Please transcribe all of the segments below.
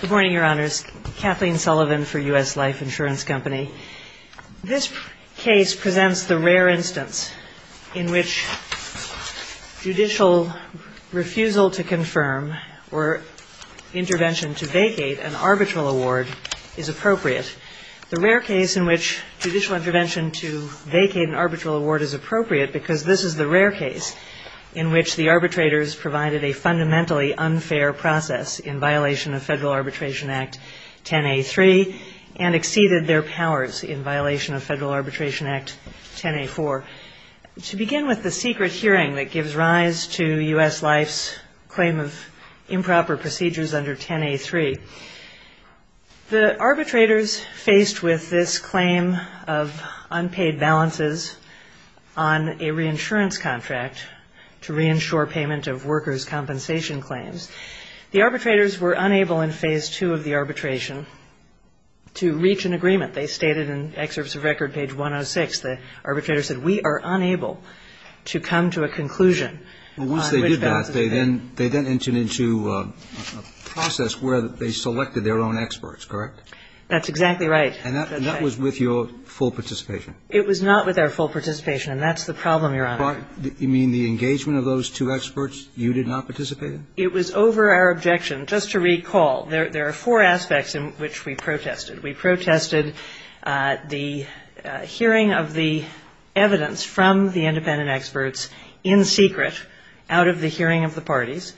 Good morning, Your Honors. Kathleen Sullivan for U.S. Life Insurance Company. This case presents the rare instance in which judicial refusal to confirm or intervention to vacate an arbitral award is appropriate. The rare case in which judicial intervention to vacate an arbitral award is appropriate because this is the rare case in which the arbitrators provided a fundamentally unfair process in violation of Federal Arbitration Act 10A3 and exceeded their powers in violation of Federal Arbitration Act 10A4. To begin with the secret hearing that gives rise to U.S. Life's claim of improper procedures under 10A3, the arbitrators faced with this claim of unpaid balances on a reinsurance contract to reinsure payment of workers' compensation claims. The arbitrators were unable in Phase II of the arbitration to reach an agreement. They stated in Excerpts of Record, page 106, the arbitrators said, we are unable to come to a conclusion on which balances to pay. Once they did that, they then entered into a process where they selected their own experts, correct? That's exactly right. And that was with your full participation? It was not with our full participation, and that's the problem, Your Honor. You mean the engagement of those two experts, you did not participate in? It was over our objection. Just to recall, there are four aspects in which we protested. We protested the hearing of the evidence from the independent experts in secret out of the hearing of the parties.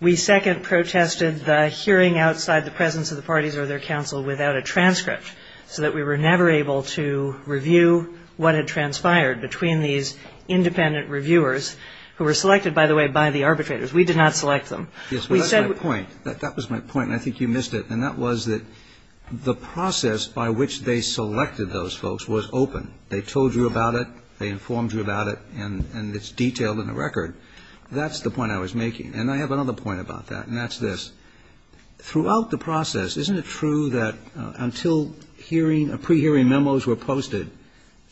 We, second, protested the hearing outside the presence of the parties or their counsel without a transcript so that we were never able to review what had transpired between these independent reviewers, who were selected, by the way, by the arbitrators. We did not select them. Yes, but that's my point. That was my point, and I think you missed it. And that was that the process by which they selected those folks was open. They told you about it. They informed you about it, and it's detailed in the record. That's the point I was making. And I have another point about that, and that's this. Throughout the process, isn't it true that until hearing or pre-hearing memos were made,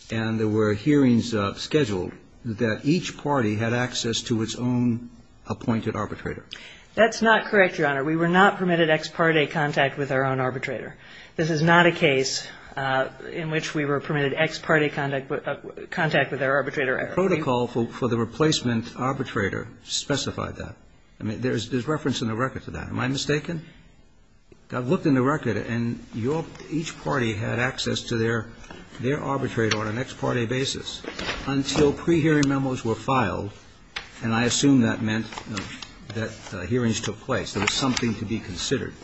that means scheduled, that each party had access to its own appointed arbitrator? That's not correct, Your Honor. We were not permitted ex parte contact with our own arbitrator. This is not a case in which we were permitted ex parte contact with our arbitrator. The protocol for the replacement arbitrator specified that. I mean, there's reference in the record to that. Am I mistaken? I've looked in the record, and each party had access to their arbitrator on an ex parte basis until pre-hearing memos were filed, and I assume that meant that hearings took place. There was something to be considered.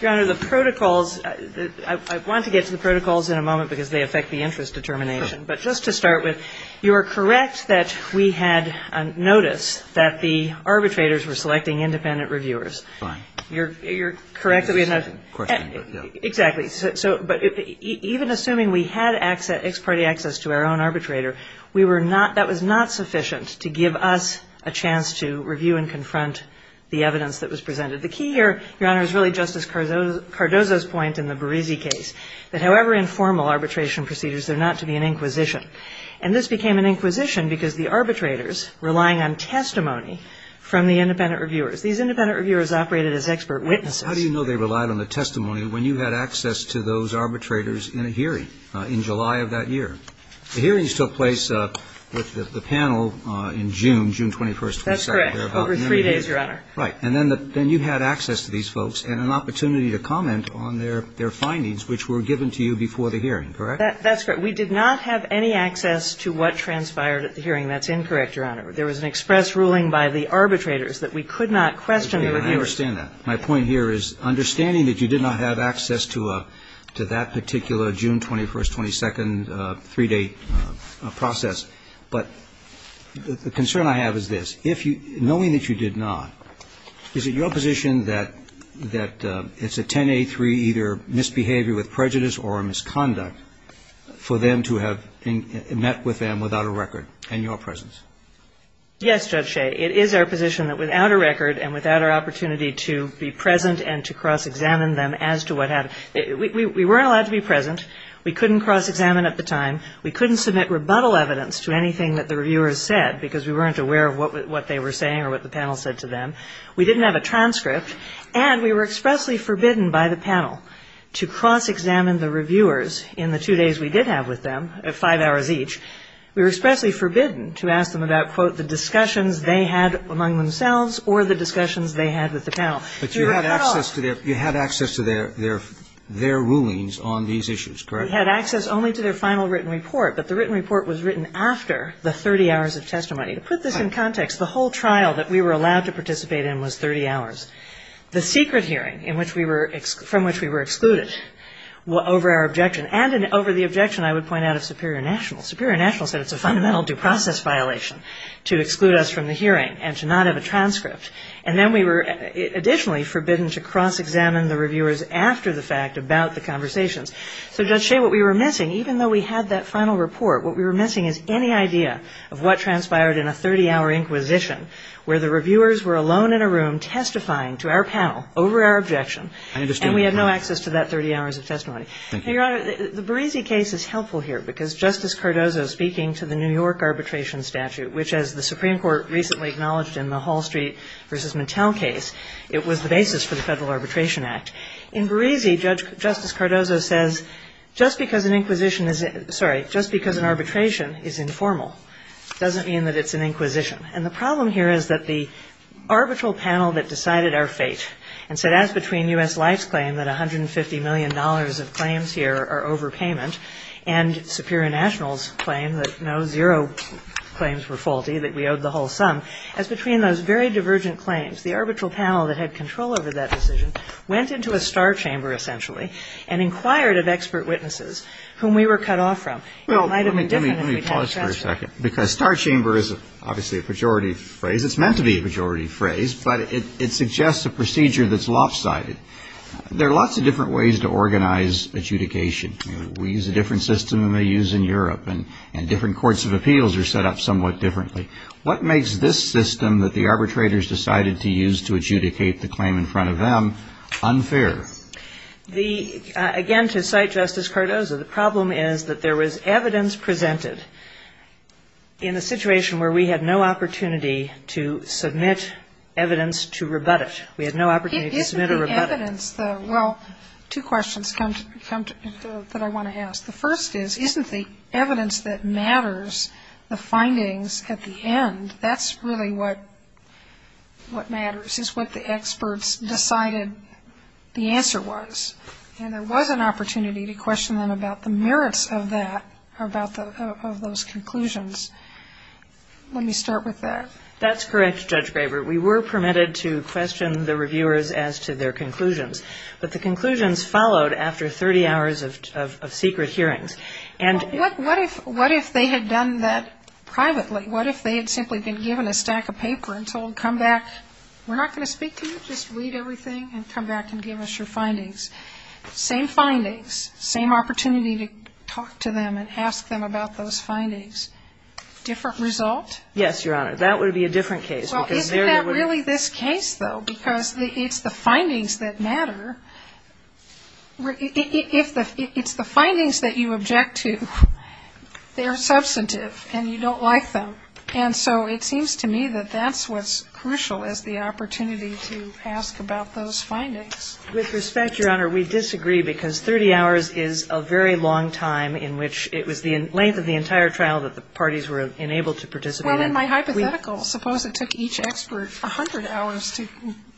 Your Honor, the protocols, I want to get to the protocols in a moment because they affect the interest determination. But just to start with, you are correct that we had notice that the arbitrators were selecting independent reviewers. Fine. You're correct that we had noticed. Exactly. But even assuming we had ex parte access to our own arbitrator, we were not that was not sufficient to give us a chance to review and confront the evidence that was presented. The key here, Your Honor, is really Justice Cardozo's point in the Berizzi case, that however informal arbitration procedures, they're not to be an inquisition. And this became an inquisition because the arbitrators, relying on testimony from the independent reviewers, these independent reviewers operated as expert witnesses. But how do you know they relied on the testimony when you had access to those arbitrators in a hearing in July of that year? The hearings took place with the panel in June, June 21st, 22nd. That's correct, over three days, Your Honor. Right. And then you had access to these folks and an opportunity to comment on their findings, which were given to you before the hearing, correct? That's correct. We did not have any access to what transpired at the hearing. That's incorrect, Your Honor. There was an express ruling by the arbitrators that we could not question the reviewers. I understand that. My point here is, understanding that you did not have access to that particular June 21st, 22nd, three-day process, but the concern I have is this. If you – knowing that you did not, is it your position that it's a 10-8-3, either misbehavior with prejudice or a misconduct, for them to have met with them without a record and your presence? Yes, Judge Shea, it is our position that without a record and without our opportunity to be present and to cross-examine them as to what happened – we weren't allowed to be present. We couldn't cross-examine at the time. We couldn't submit rebuttal evidence to anything that the reviewers said because we weren't aware of what they were saying or what the panel said to them. We didn't have a transcript. And we were expressly forbidden by the panel to cross-examine the reviewers in the two days we did have with them, five hours each. We were expressly forbidden to ask them about, quote, the discussions they had among themselves or the discussions they had with the panel. But you had access to their – you had access to their rulings on these issues, correct? We had access only to their final written report, but the written report was written after the 30 hours of testimony. To put this in context, the whole trial that we were allowed to participate in was 30 hours. The secret hearing in which we were – from which we were excluded over our objection and over the objection, I would point out, of Superior National. Superior National said it's a fundamental due process violation to exclude us from the hearing and to not have a transcript. And then we were additionally forbidden to cross-examine the reviewers after the fact about the conversations. So, Judge Shea, what we were missing, even though we had that final report, what we were missing is any idea of what transpired in a 30-hour inquisition where the reviewers were alone in a room testifying to our panel over our objection. And we had no access to that 30 hours of testimony. Thank you. Now, Your Honor, the Berizzi case is helpful here because Justice Cardozo speaking to the New York arbitration statute, which, as the Supreme Court recently acknowledged in the Hall Street v. Mattel case, it was the basis for the Federal Arbitration Act. In Berizzi, Justice Cardozo says, just because an inquisition is – sorry, just because an arbitration is informal doesn't mean that it's an inquisition. And the problem here is that the arbitral panel that decided our fate and said, as between U.S. Life's claim that $150 million of claims here are overpayment and Superior National's claim that no, zero claims were faulty, that we owed the whole sum, as between those very divergent claims, the arbitral panel that had control over that decision went into a star chamber, essentially, and inquired of expert witnesses whom we were cut off from. It might have been different if we had a transfer. Well, let me pause for a second, because star chamber is obviously a pejorative phrase. It's meant to be a pejorative phrase, but it suggests a procedure that's lopsided. There are lots of different ways to organize adjudication. We use a different system than we use in Europe, and different courts of appeals are set up somewhat differently. What makes this system that the arbitrators decided to use to adjudicate the claim in front of them unfair? The – again, to cite Justice Cardozo, the problem is that there was evidence presented in a situation where we had no opportunity to submit evidence to rebut it. We had no opportunity to submit a rebuttal. Isn't the evidence the – well, two questions come to – that I want to ask. The first is, isn't the evidence that matters, the findings at the end, that's really what – what matters, is what the experts decided the answer was? And there was an opportunity to question them about the merits of that, about the – of those conclusions. Let me start with that. That's correct, Judge Graber. We were permitted to question the reviewers as to their conclusions, but the conclusions followed after 30 hours of secret hearings. And – Well, what if – what if they had done that privately? What if they had simply been given a stack of paper and told, come back, we're not going to speak to you, just read everything and come back and give us your findings? Same findings, same opportunity to talk to them and ask them about those findings. Different result? Yes, Your Honor. That would be a different case, because there they would – Your Honor, if the – it's the findings that you object to, they are substantive and you don't like them. And so it seems to me that that's what's crucial, is the opportunity to ask about those findings. With respect, Your Honor, we disagree, because 30 hours is a very long time in which it was the length of the entire trial that the parties were enabled to participate in. Well, in my hypothetical, suppose it took each expert 100 hours to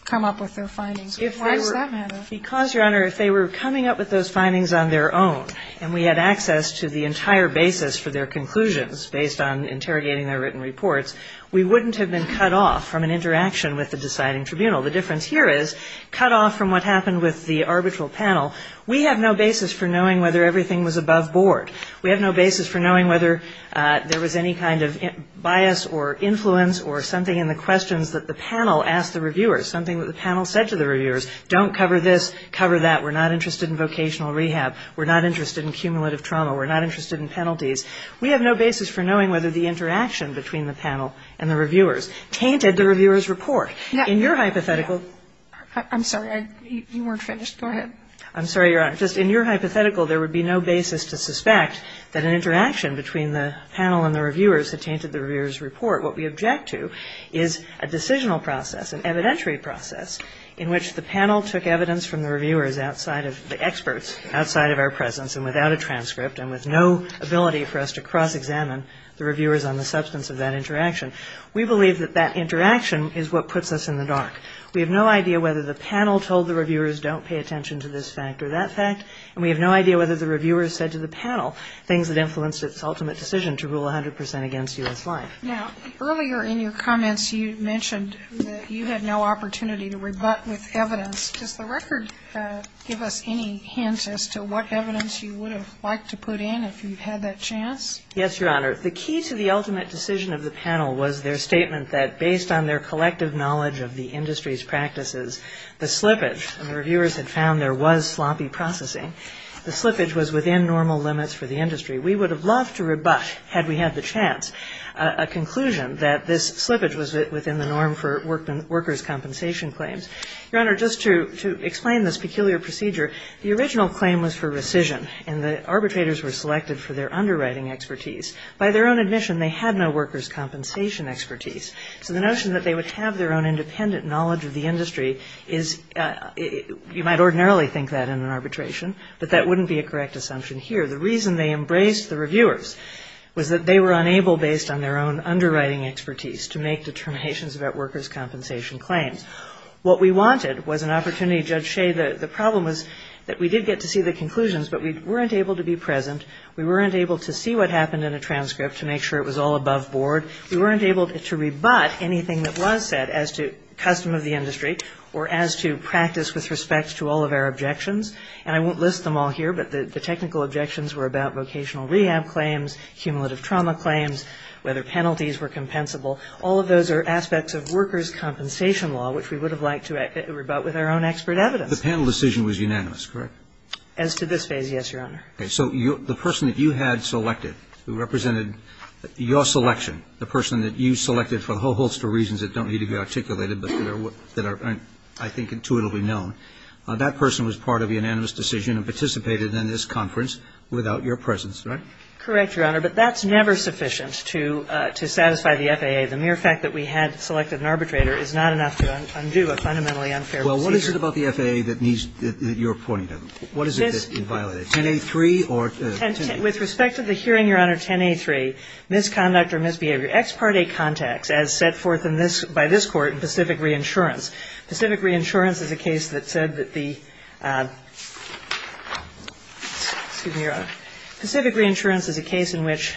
come up with their findings. Why does that matter? Because, Your Honor, if they were coming up with those findings on their own and we had access to the entire basis for their conclusions based on interrogating their written reports, we wouldn't have been cut off from an interaction with the deciding tribunal. The difference here is, cut off from what happened with the arbitral panel, we have no basis for knowing whether everything was above board. We have no basis for knowing whether there was any kind of bias or influence or something in the questions that the panel asked the reviewers, something that the panel said to the reviewers, don't cover this, cover that, we're not interested in vocational rehab, we're not interested in cumulative trauma, we're not interested in penalties. We have no basis for knowing whether the interaction between the panel and the reviewers tainted the reviewers' report. In your hypothetical — I'm sorry. You weren't finished. Go ahead. I'm sorry, Your Honor. Just in your hypothetical, there would be no basis to suspect that an interaction between the panel and the reviewers had tainted the reviewers' report. What we object to is a decisional process, an evidentiary process, in which the panel took evidence from the reviewers outside of — the experts outside of our presence and without a transcript and with no ability for us to cross-examine the reviewers on the substance of that interaction. We believe that that interaction is what puts us in the dark. We have no idea whether the panel told the reviewers, don't pay attention to this fact or that fact, and we have no idea whether the reviewers said to the panel things that influenced its ultimate decision to rule 100 percent against U.S. life. Now, earlier in your comments, you mentioned that you had no opportunity to rebut with evidence. Does the record give us any hints as to what evidence you would have liked to put in if you had that chance? Yes, Your Honor. The key to the ultimate decision of the panel was their statement that, based on their collective knowledge of the industry's practices, the slippage — the reviewers had found there was sloppy processing — the slippage was within normal limits for the conclusion that this slippage was within the norm for workers' compensation claims. Your Honor, just to explain this peculiar procedure, the original claim was for rescission, and the arbitrators were selected for their underwriting expertise. By their own admission, they had no workers' compensation expertise. So the notion that they would have their own independent knowledge of the industry is — you might ordinarily think that in an arbitration, but that wouldn't be a correct assumption here. The reason they embraced the reviewers was that they were unable, based on their own underwriting expertise, to make determinations about workers' compensation claims. What we wanted was an opportunity — Judge Shea, the problem was that we did get to see the conclusions, but we weren't able to be present. We weren't able to see what happened in a transcript to make sure it was all above board. We weren't able to rebut anything that was said as to custom of the industry or as to practice with respect to all of our objections. And I won't list them all here, but the technical objections were about vocational rehab claims, cumulative trauma claims, whether penalties were compensable. All of those are aspects of workers' compensation law, which we would have liked to rebut with our own expert evidence. The panel decision was unanimous, correct? As to this phase, yes, Your Honor. So the person that you had selected, who represented your selection, the person that you selected for a whole host of reasons that don't need to be articulated but that are, I think, intuitively known, that person was part of the unanimous decision and participated in this conference without your presence, right? Correct, Your Honor. But that's never sufficient to satisfy the FAA. The mere fact that we had selected an arbitrator is not enough to undo a fundamentally unfair procedure. Well, what is it about the FAA that needs your pointing to? What is it that's in violation? 10a3 or 10a3? With respect to the hearing, Your Honor, 10a3, misconduct or misbehavior. Ex parte contacts, as set forth in this by this Court in Pacific Reinsurance. Pacific Reinsurance is a case that said that the — excuse me, Your Honor. Pacific Reinsurance is a case in which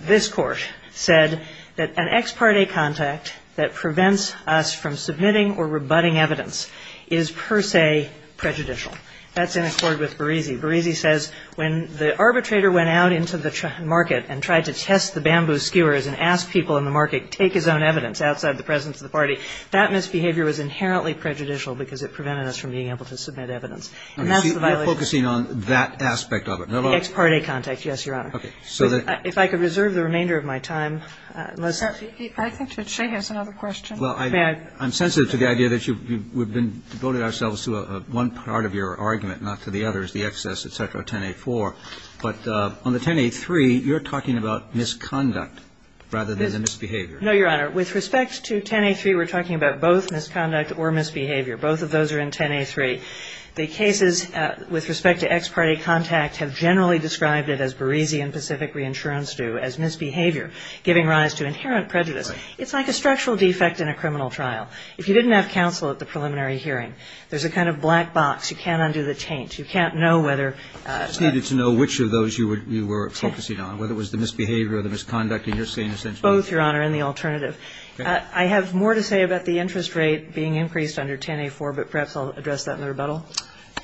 this Court said that an ex parte contact that prevents us from submitting or rebutting evidence is per se prejudicial. That's in accord with Berisi. Berisi says when the arbitrator went out into the market and tried to test the bamboo skewers and ask people in the market, take his own evidence outside the presence of the party, that misbehavior was inherently prejudicial because it prevented us from being able to submit evidence. And that's the violation. You're focusing on that aspect of it. The ex parte contact, yes, Your Honor. Okay. So that — If I could reserve the remainder of my time, unless — I think that she has another question. Well, I'm sensitive to the idea that we've been devoted ourselves to one part of your argument, not to the others, the excess, et cetera, 10a4. But on the 10a3, you're talking about misconduct rather than the misbehavior. No, Your Honor. With respect to 10a3, we're talking about both misconduct or misbehavior. Both of those are in 10a3. The cases with respect to ex parte contact have generally described it, as Berisi and Pacific Reinsurance do, as misbehavior, giving rise to inherent prejudice. Right. It's like a structural defect in a criminal trial. If you didn't have counsel at the preliminary hearing, there's a kind of black box. You can't undo the taint. You can't know whether — You just needed to know which of those you were focusing on, whether it was the misbehavior or the misconduct in your scene, essentially. Both, Your Honor, and the alternative. I have more to say about the interest rate being increased under 10a4, but perhaps I'll address that in the rebuttal.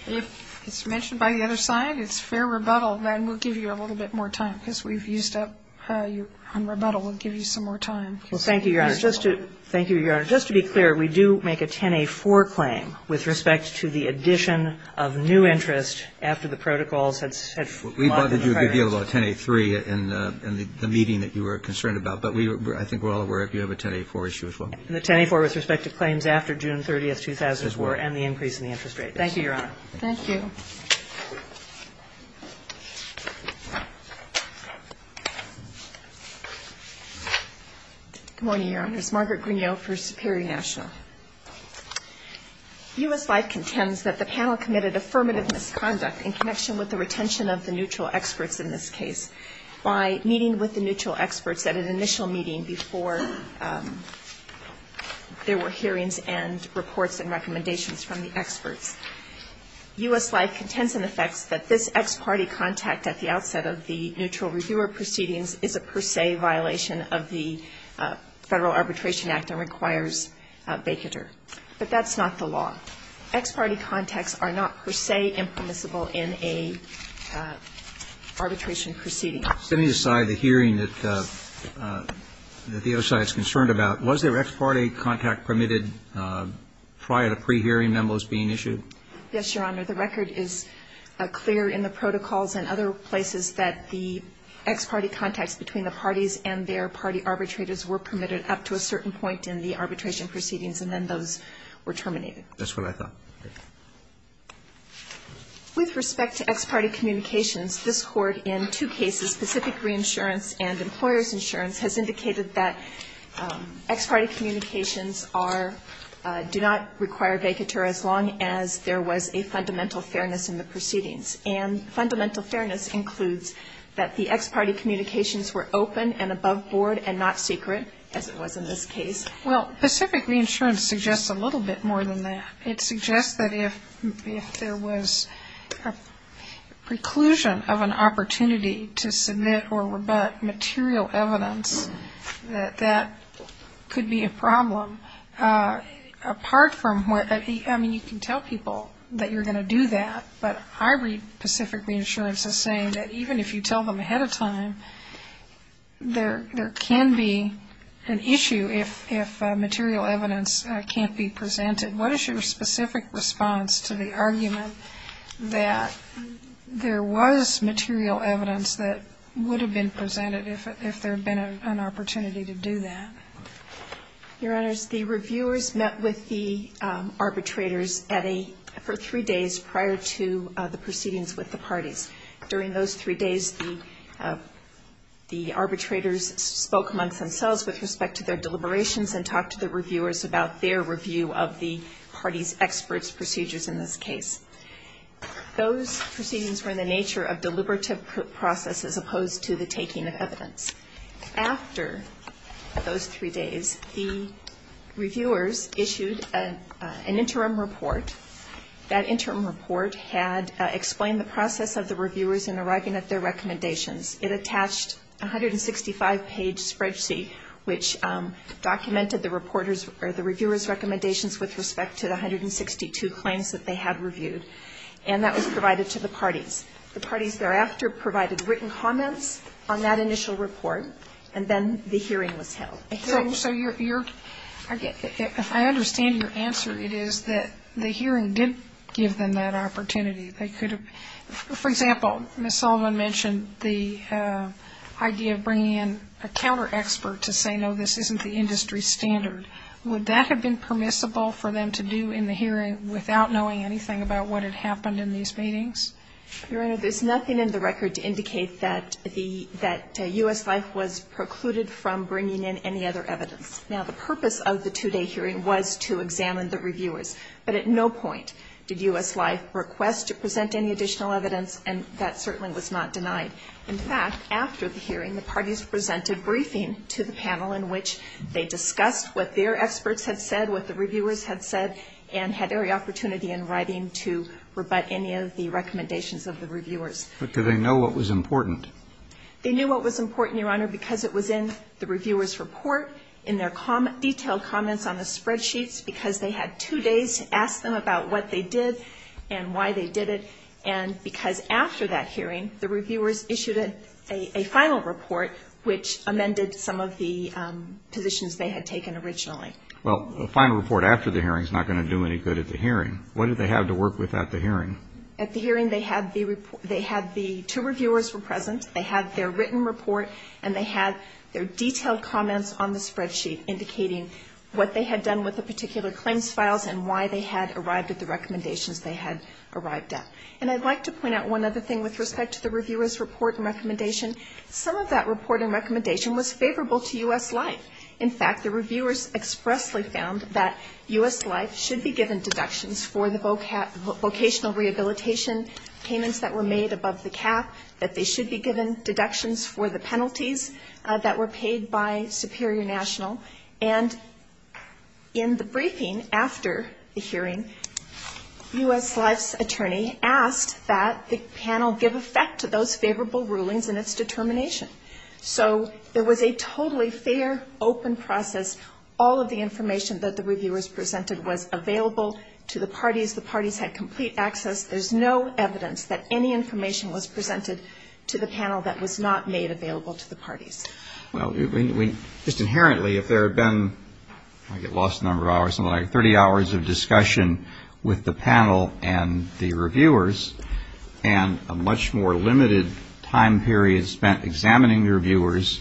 If it's mentioned by the other side, it's fair rebuttal, then we'll give you a little bit more time, because we've used up your — on rebuttal, we'll give you some more time. Well, thank you, Your Honor. Just to — thank you, Your Honor. Just to be clear, we do make a 10a4 claim with respect to the addition of new interest after the protocols had — We bothered you a good deal about 10a3 in the meeting that you were concerned about, but we — I think we're all aware of you have a 10a4 issue as well. And the 10a4 with respect to claims after June 30th, 2004 and the increase in the interest Thank you, Your Honor. Thank you. Good morning, Your Honors. Margaret Grignot for Superior National. U.S. Life contends that the panel committed affirmative misconduct in connection with the retention of the neutral experts in this case by meeting with the neutral experts at an initial meeting before there were hearings and reports and recommendations from the experts. U.S. Life contends in effect that this ex parte contact at the outset of the neutral reviewer proceedings is a per se violation of the Federal Arbitration Act and requires a vacater. But that's not the law. Ex parte contacts are not per se impermissible in a arbitration proceeding. Setting aside the hearing that the other side is concerned about, was there ex parte contact permitted prior to pre-hearing memos being issued? Yes, Your Honor. The record is clear in the protocols and other places that the ex parte contacts between the parties and their party arbitrators were permitted up to a certain point in the arbitration proceedings, and then those were terminated. That's what I thought. With respect to ex parte communications, this Court in two cases, Pacific Reinsurance and Employer's Insurance, has indicated that ex parte communications are, do not require vacater as long as there was a fundamental fairness in the proceedings. And fundamental fairness includes that the ex parte communications were open and above board and not secret, as it was in this case. Well, Pacific Reinsurance suggests a little bit more than that. It suggests that if there was a preclusion of an opportunity to submit or rebut material evidence, that that could be a problem. Apart from where, I mean, you can tell people that you're going to do that, but I read Pacific Reinsurance as saying that even if you tell them ahead of time, there can be an issue if material evidence can't be presented. What is your specific response to the argument that there was material evidence that would have been presented if there had been an opportunity to do that? Your Honors, the reviewers met with the arbitrators for three days prior to the proceedings with the parties. During those three days, the arbitrators spoke amongst themselves with respect to their deliberations and talked to the reviewers about their review of the parties' experts' procedures in this case. Those proceedings were in the nature of deliberative process as opposed to the taking of evidence. After those three days, the reviewers issued an interim report. That interim report had explained the process of the reviewers in arriving at their recommendations. It attached a 165-page spreadsheet, which documented the reporters' or the reviewers' recommendations with respect to the 162 claims that they had reviewed. And that was provided to the parties. The parties thereafter provided written comments on that initial report. And then the hearing was held. I understand your answer. It is that the hearing didn't give them that opportunity. For example, Ms. Sullivan mentioned the idea of bringing in a counter-expert to say, no, this isn't the industry standard. Would that have been permissible for them to do in the case? Your Honor, there's nothing in the record to indicate that U.S. Life was precluded from bringing in any other evidence. Now, the purpose of the two-day hearing was to examine the reviewers. But at no point did U.S. Life request to present any additional evidence, and that certainly was not denied. In fact, after the hearing, the parties submitted a final report, which amended some of the positions they had taken originally. Well, a final report after the hearing is not going to do any good at the hearing. What did they have to work with at the hearing? At the hearing, they had the report of the reviewer's comments. They had the two reviewers were present. They had their written report, and they had their detailed comments on the spreadsheet indicating what they had done with the particular claims files and why they had arrived at the recommendations they had arrived at. And I'd like to point out one other thing with respect to the reviewer's report and recommendation. Some of that report and recommendation was favorable to U.S. Life. In fact, the reviewers expressly found that U.S. Life should be given deductions for the vocational rehabilitation payments that were made above the cap, that they should be given deductions for the penalties that were paid by Superior National. And in the briefing after the hearing, U.S. Life's attorney asked that the panel give effect to those favorable rulings in its determination. So it was a totally fair, open process. All of the information that the reviewers presented was available to the parties. The parties had complete access. There's no evidence that any information was presented to the panel that was not made available to the parties. Well, just inherently, if there had been, I get lost a number of hours, something like 30 hours of discussion with the panel and the reviewers, and a much more limited time period spent examining the reviewers,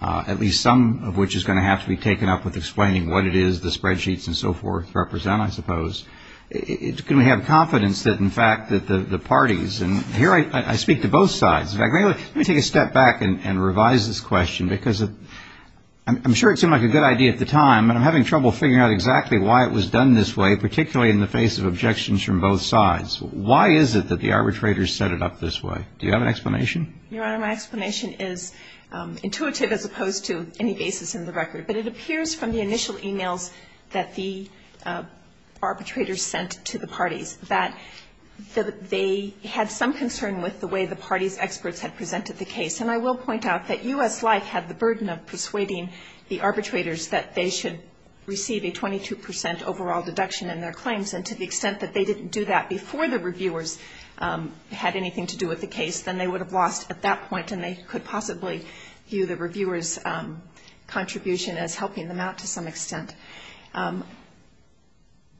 at least some of which is going to have to be taken up with explaining what it is the spreadsheets and so forth represent, I suppose, can we have confidence that, in fact, that the parties, and here I speak to both sides. In fact, let me take a step back and revise this question, because I'm sure it seemed like a good idea at the time, but I'm having trouble figuring out exactly why it was done this way, particularly in the face of objections from both sides. Why is it that the arbitrators set it up this way? Do you have an explanation? Your Honor, my explanation is intuitive as opposed to any basis in the record. But it appears from the initial emails that the arbitrators sent to the parties that they had some concern with the way the party's experts had presented the case. And I will point out that U.S. Life had the burden of persuading the arbitrators that they should receive a 22 percent overall deduction in their claims, and to the extent that they didn't do that before the reviewers had anything to do with the case, then they would have lost at that point, and they could possibly view the reviewers' contribution as helping them out to some extent.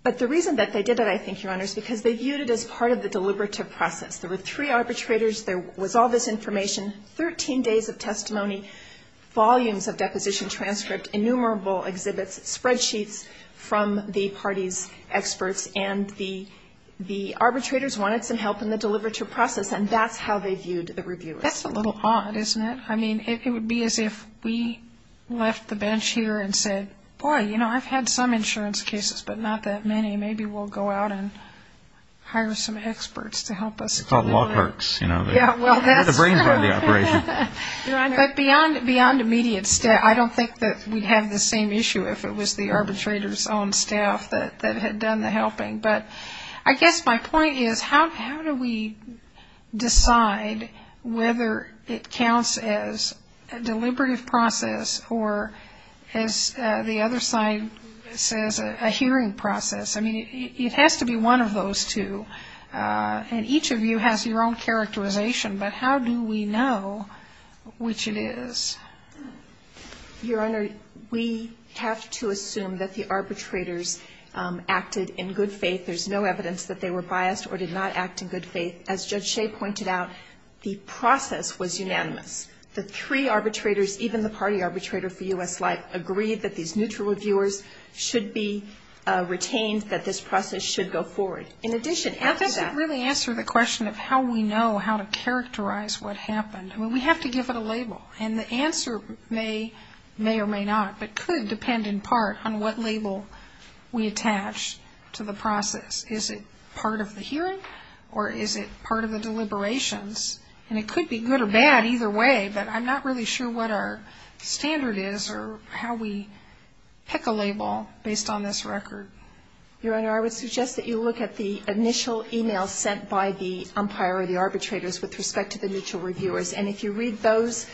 But the reason that they did it, I think, Your Honor, is because they viewed it as part of the deliberative process. There were three arbitrators. There was all this information, 13 days of testimony, volumes of deposition transcript, innumerable exhibits, spreadsheets from the party's experts, and the arbitrators wanted some help in the deliberative process, and that's how they viewed the reviewers. That's a little odd, isn't it? I mean, it would be as if we left the bench here and said, boy, you know, I've had some insurance cases, but not that many. Maybe we'll go out and hire some experts to help us. It's called log perks, you know. Get the brains out of the operation. But beyond immediate staff, I don't think that we'd have the same issue if it was the arbitrators' own staff that had done the helping. But I guess my point is, how do we decide whether it counts as a deliberative process or, as the other side says, a hearing process? I mean, it has to be one of those two. And each of you has your own characterization, but how do we know which it is? Your Honor, we have to assume that the arbitrators acted in good faith. There's no evidence that they were biased or did not act in good faith. As Judge Shea pointed out, the process was unanimous. The three arbitrators, even the party arbitrator for U.S. Life, agreed that these neutral reviewers should be retained, that this process should go forward. In addition, after that ---- may or may not, but could depend in part on what label we attach to the process. Is it part of the hearing or is it part of the deliberations? And it could be good or bad either way, but I'm not really sure what our standard is or how we pick a label based on this record. Your Honor, I would suggest that you look at the initial emails sent by the umpire or the arbitrators with respect to the neutral reviewers, and if you read those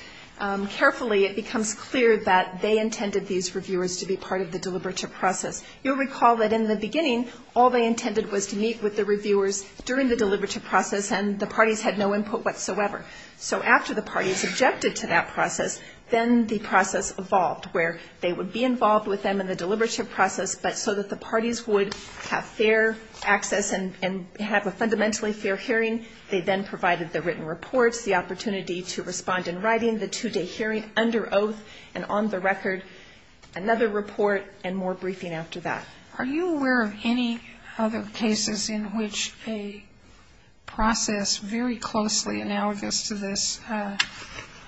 carefully, it becomes clear that they intended these reviewers to be part of the deliberative process. You'll recall that in the beginning, all they intended was to meet with the reviewers during the deliberative process, and the parties had no input whatsoever. So after the parties objected to that process, then the process evolved, where they would be involved with them in the deliberative process, but so that the parties would have fair access and have a fundamentally fair hearing, they then provided the written reports, the opportunity to respond in writing, the two-day hearing under oath, and on the record, another report and more briefing after that. Are you aware of any other cases in which a process very closely analogous to this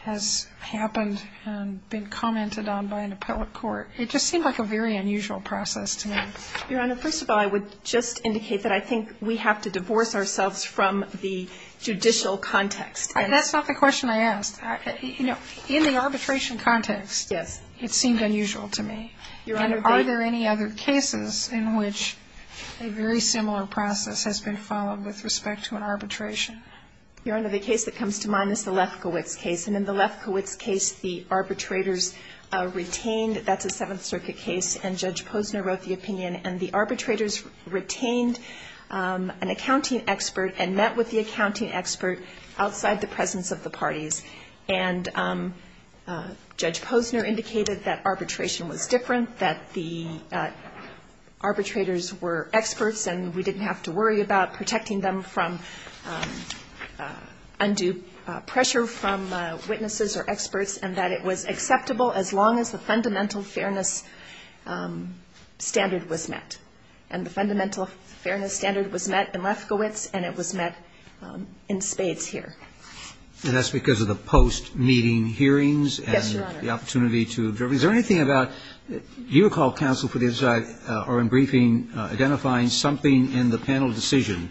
has happened and been commented on by an appellate court? It just seemed like a very unusual process to me. Your Honor, first of all, I would just indicate that I think we have to divorce ourselves from the judicial context. That's not the question I asked. You know, in the arbitration context, it seemed unusual to me. Your Honor, are there any other cases in which a very similar process has been followed with respect to an arbitration? Your Honor, the case that comes to mind is the Lefkowitz case, and in the Lefkowitz case, the arbitrators retained, that's a Seventh Circuit case, and Judge Posner wrote the opinion, and the arbitrators retained an accounting expert and met with the accounting expert outside the presence of the parties. And Judge Posner indicated that arbitration was different, that the arbitrators were experts, and we didn't have to worry about protecting them from undue pressure from witnesses or experts, and that it was acceptable as long as the fundamental fairness standard was met. And the fundamental fairness standard was met in Lefkowitz, and it was met in Spades here. And that's because of the post-meeting hearings and the opportunity to observe. Yes, Your Honor. Is there anything about, do you recall, counsel, for the other side, or in briefing, identifying something in the panel decision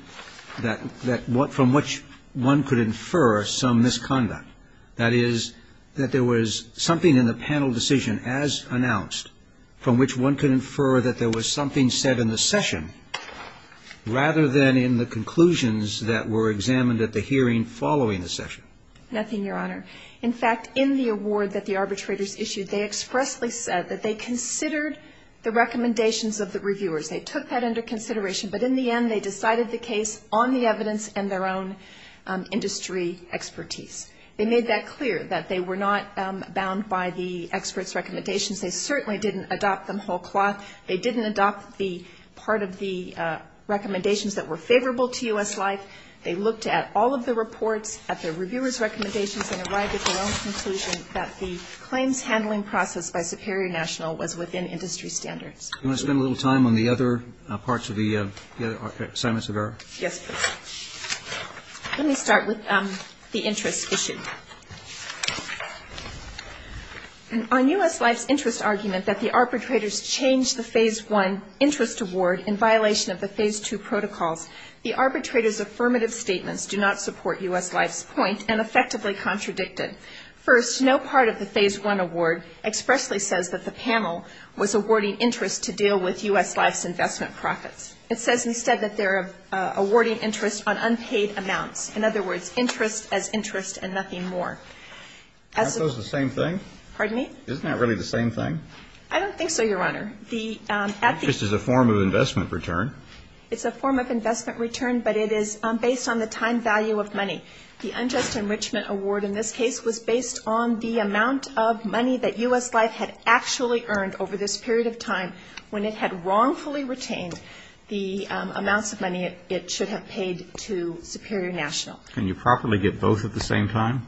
from which one could infer some misconduct? That is, that there was something in the panel decision, as announced, from which one could infer that there was something said in the session rather than in the conclusions that were examined at the hearing following the session? Nothing, Your Honor. In fact, in the award that the arbitrators issued, they expressly said that they considered the recommendations of the reviewers. They took that under consideration, but in the end they decided the case on the evidence and their own industry expertise. They made that clear, that they were not bound by the experts' recommendations. They certainly didn't adopt them whole cloth. They didn't adopt the part of the recommendations that were favorable to U.S. life. And they provided their own conclusion that the claims handling process by Superior National was within industry standards. Do you want to spend a little time on the other parts of the other assignments of error? Yes, please. Let me start with the interest issue. On U.S. life's interest argument that the arbitrators changed the Phase I interest award in violation of the Phase II protocols, the arbitrators' affirmative statements do not support U.S. life's point and effectively contradicted. First, no part of the Phase I award expressly says that the panel was awarding interest to deal with U.S. life's investment profits. It says instead that they're awarding interest on unpaid amounts. In other words, interest as interest and nothing more. Aren't those the same thing? Pardon me? Isn't that really the same thing? I don't think so, Your Honor. Interest is a form of investment return. It's a form of investment return, but it is based on the time value of money. The unjust enrichment award in this case was based on the amount of money that U.S. life had actually earned over this period of time when it had wrongfully retained the amounts of money it should have paid to Superior National. Can you properly get both at the same time?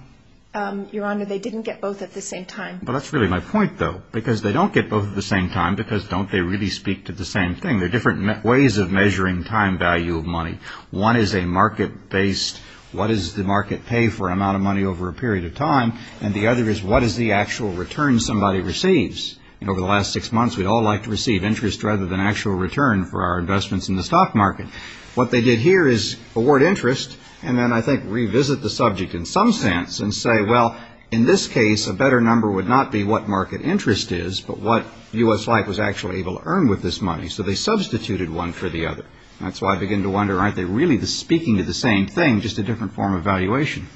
Your Honor, they didn't get both at the same time. But that's really my point, though, because they don't get both at the same time because don't they really speak to the same thing? They're different ways of measuring time value of money. One is a market-based, what does the market pay for an amount of money over a period of time, and the other is what is the actual return somebody receives. And over the last six months, we'd all like to receive interest rather than actual return for our investments in the stock market. What they did here is award interest and then I think revisit the subject in some sense and say, well, in this case, a better number would not be what market interest is, but what U.S. life was actually able to earn with this money. So they substituted one for the other. That's why I begin to wonder, aren't they really speaking to the same thing, just a different form of valuation?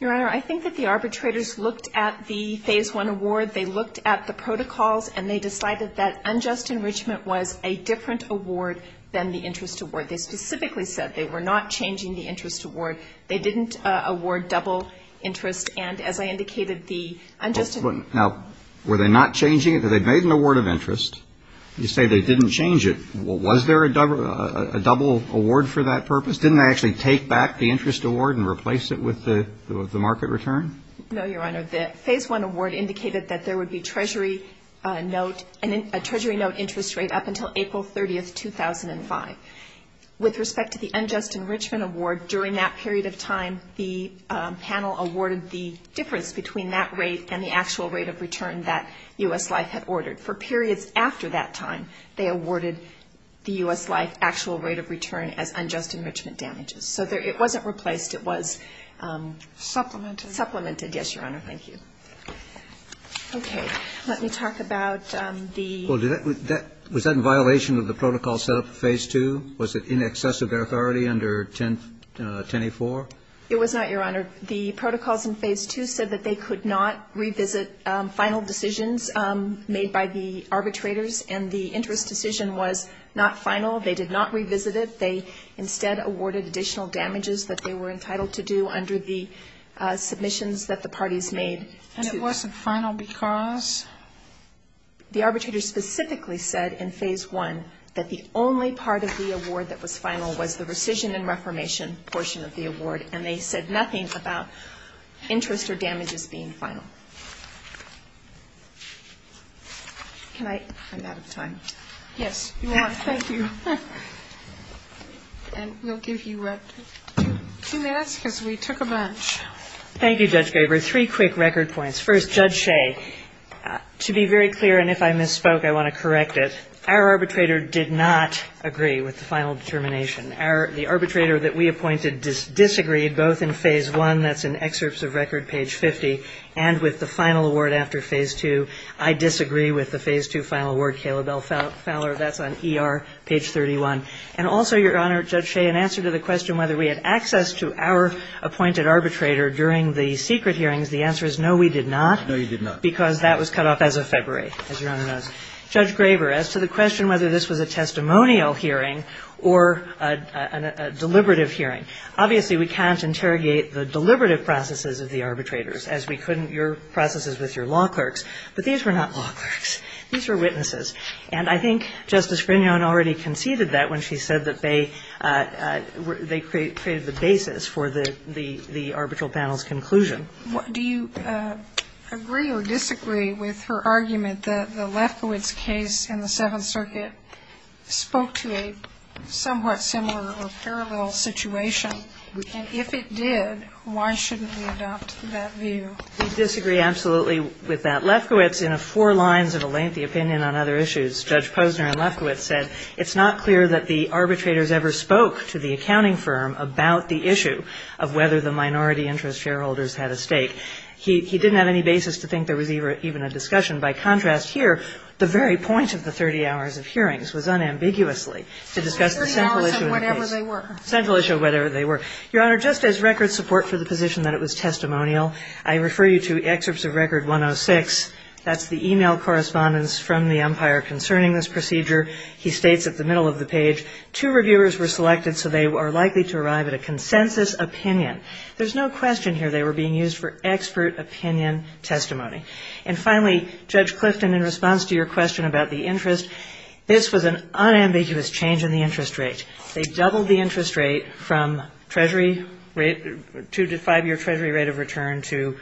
Your Honor, I think that the arbitrators looked at the Phase I award, they looked at the protocols, and they decided that unjust enrichment was a different award than the interest award. They specifically said they were not changing the interest award. They didn't award double interest. Now, were they not changing it? They made an award of interest. You say they didn't change it. Was there a double award for that purpose? Didn't they actually take back the interest award and replace it with the market return? No, Your Honor. The Phase I award indicated that there would be a Treasury note interest rate up until April 30, 2005. With respect to the unjust enrichment award, during that period of time, the panel awarded the difference between that rate and the actual rate of return that U.S. life had ordered. For periods after that time, they awarded the U.S. life actual rate of return as unjust enrichment damages. So it wasn't replaced. It was supplemented. Supplemented, yes, Your Honor. Thank you. Okay. Let me talk about the ---- Well, was that in violation of the protocol set up in Phase II? Was it in excess of their authority under 10A4? It was not, Your Honor. The protocols in Phase II said that they could not revisit final decisions made by the arbitrators, and the interest decision was not final. They did not revisit it. They instead awarded additional damages that they were entitled to do under the submissions that the parties made to ---- And it wasn't final because? The arbitrators specifically said in Phase I that the only part of the award that was final was the rescission and reformation portion of the award, and they said nothing about interest or damages being final. Can I? I'm out of time. Yes, Your Honor. Thank you. And we'll give you two minutes because we took a bunch. Thank you, Judge Graber. Three quick record points. First, Judge Shea, to be very clear, and if I misspoke, I want to correct it. Our arbitrator did not agree with the final determination. The arbitrator that we appointed disagreed both in Phase I, that's in Excerpts of Record, page 50, and with the final award after Phase II. I disagree with the Phase II final award. Caleb L. Fowler, that's on ER, page 31. And also, Your Honor, Judge Shea, in answer to the question whether we had access to our appointed arbitrator during the secret hearings, the answer is no, we did not. No, you did not. Because that was cut off as of February, as Your Honor knows. Judge Graber, as to the question whether this was a testimonial hearing or a deliberative hearing, obviously we can't interrogate the deliberative processes of the arbitrators, as we couldn't your processes with your law clerks. But these were not law clerks. These were witnesses. And I think Justice Grignon already conceded that when she said that they created the basis for the arbitral panel's conclusion. Do you agree or disagree with her argument that the Lefkowitz case in the Seventh Circuit spoke to a somewhat similar or parallel situation? And if it did, why shouldn't we adopt that view? We disagree absolutely with that. Lefkowitz, in a four lines of a lengthy opinion on other issues, Judge Posner and Lefkowitz said, it's not clear that the arbitrators ever spoke to the accounting firm about the issue of whether the minority interest shareholders had a stake. He didn't have any basis to think there was even a discussion. By contrast, here, the very point of the 30 hours of hearings was unambiguously to discuss the central issue of the case. The 30 hours of whatever they were. The central issue of whatever they were. Your Honor, just as record support for the position that it was testimonial, I refer you to Excerpts of Record 106. That's the e-mail correspondence from the umpire concerning this procedure. He states at the middle of the page, two reviewers were selected so they are likely to arrive at a consensus opinion. There's no question here they were being used for expert opinion testimony. And finally, Judge Clifton, in response to your question about the interest, this was an unambiguous change in the interest rate. They doubled the interest rate from treasury rate, two to five year treasury rate of return to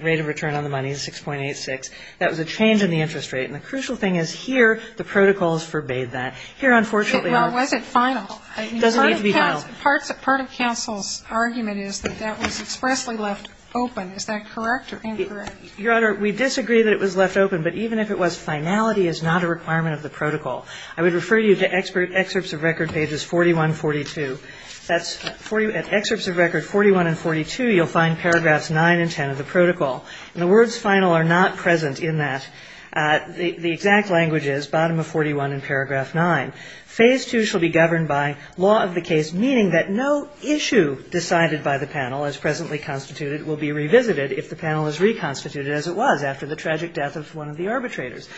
rate of return on the money, 6.86. That was a change in the interest rate. And the crucial thing is, here, the protocols forbade that. Here, unfortunately, our ---- Well, was it final? It doesn't need to be final. Part of counsel's argument is that that was expressly left open. Is that correct or incorrect? Your Honor, we disagree that it was left open. But even if it was, finality is not a requirement of the protocol. I would refer you to Excerpts of Record pages 41 and 42. That's at Excerpts of Record 41 and 42, you'll find paragraphs 9 and 10 of the protocol. And the words final are not present in that. The exact language is, bottom of 41 in paragraph 9, phase 2 shall be governed by law of the case, meaning that no issue decided by the panel as presently constituted will be revisited if the panel is reconstituted as it was after the tragic death of one of the arbitrators.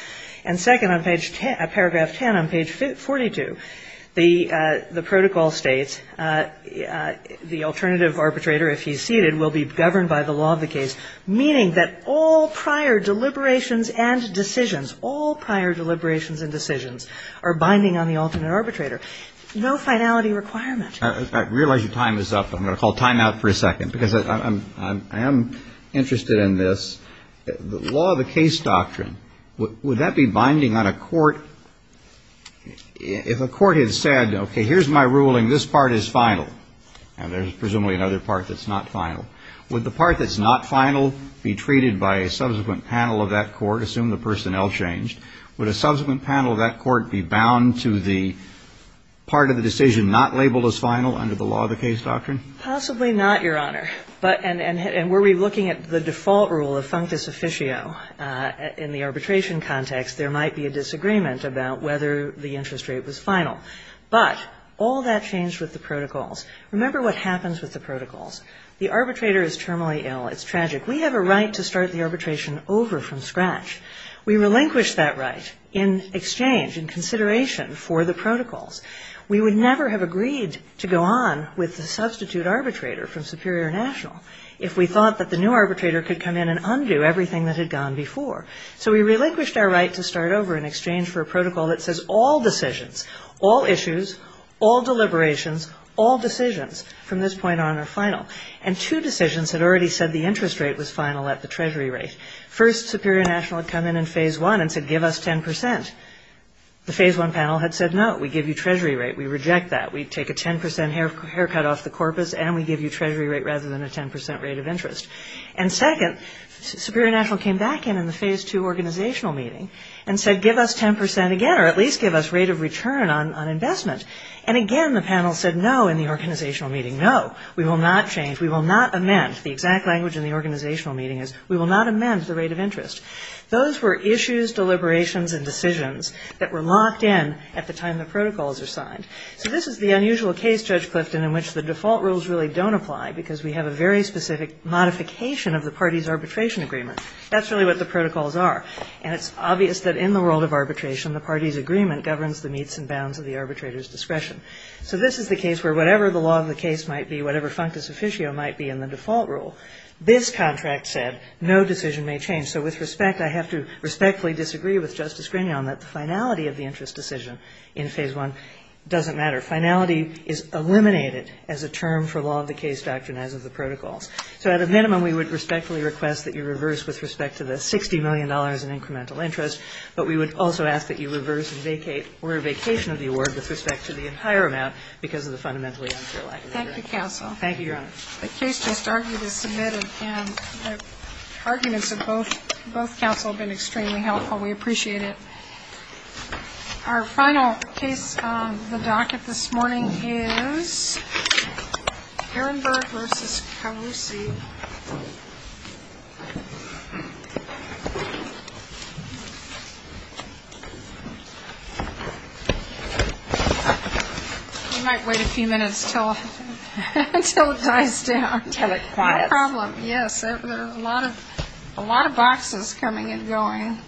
And second, on paragraph 10 on page 42, the protocol states, the alternative arbitrator, if he's seated, will be governed by the law of the case, meaning that all prior deliberations and decisions, all prior deliberations and decisions are binding on the alternate arbitrator. No finality requirement. I realize your time is up. I'm going to call time out for a second, because I am interested in this. The law of the case doctrine, would that be binding on a court? If a court had said, okay, here's my ruling, this part is final, and there's presumably another part that's not final, would the part that's not final be treated by a subsequent panel of that court? Assume the personnel changed. Would a subsequent panel of that court be bound to the part of the decision not labeled as final under the law of the case doctrine? Possibly not, Your Honor. And were we looking at the default rule of functus officio in the arbitration context, there might be a disagreement about whether the interest rate was final. But all that changed with the protocols. Remember what happens with the protocols. The arbitrator is terminally ill. It's tragic. We have a right to start the arbitration over from scratch. We relinquish that right in exchange, in consideration for the protocols. We would never have agreed to go on with the substitute arbitrator from Superior and National if we thought that the new arbitrator could come in and undo everything that had gone before. So we relinquished our right to start over in exchange for a protocol that says all decisions, all issues, all deliberations, all decisions from this point on are final. And two decisions had already said the interest rate was final at the Treasury rate. First, Superior and National had come in in Phase 1 and said give us 10%. The Phase 1 panel had said no, we give you Treasury rate. We reject that. We take a 10% haircut off the corpus and we give you Treasury rate rather than a 10% rate of interest. And second, Superior and National came back in in the Phase 2 organizational meeting and said give us 10% again, or at least give us rate of return on investment. And again, the panel said no in the organizational meeting, no. We will not change. We will not amend. The exact language in the organizational meeting is we will not amend the rate of interest. Those were issues, deliberations, and decisions that were locked in at the time the protocols are signed. So this is the unusual case, Judge Clifton, in which the default rules really don't apply because we have a very specific modification of the party's arbitration agreement. That's really what the protocols are. And it's obvious that in the world of arbitration, the party's agreement governs the meets and bounds of the arbitrator's discretion. So this is the case where whatever the law of the case might be, whatever functus officio might be in the default rule, this contract said no decision may change. So with respect, I have to respectfully disagree with Justice Grinion that the finality of the interest decision in Phase 1 doesn't matter. Finality is eliminated as a term for law of the case doctrine as of the protocols. So at a minimum, we would respectfully request that you reverse with respect to the $60 million in incremental interest, but we would also ask that you Thank you, counsel. Thank you, Your Honor. The case just argued is submitted, and the arguments of both counsel have been extremely helpful. We appreciate it. Our final case on the docket this morning is Ehrenberg v. Kalusi. We might wait a few minutes until it dies down. Until it quiets. No problem, yes. There are a lot of boxes coming and going.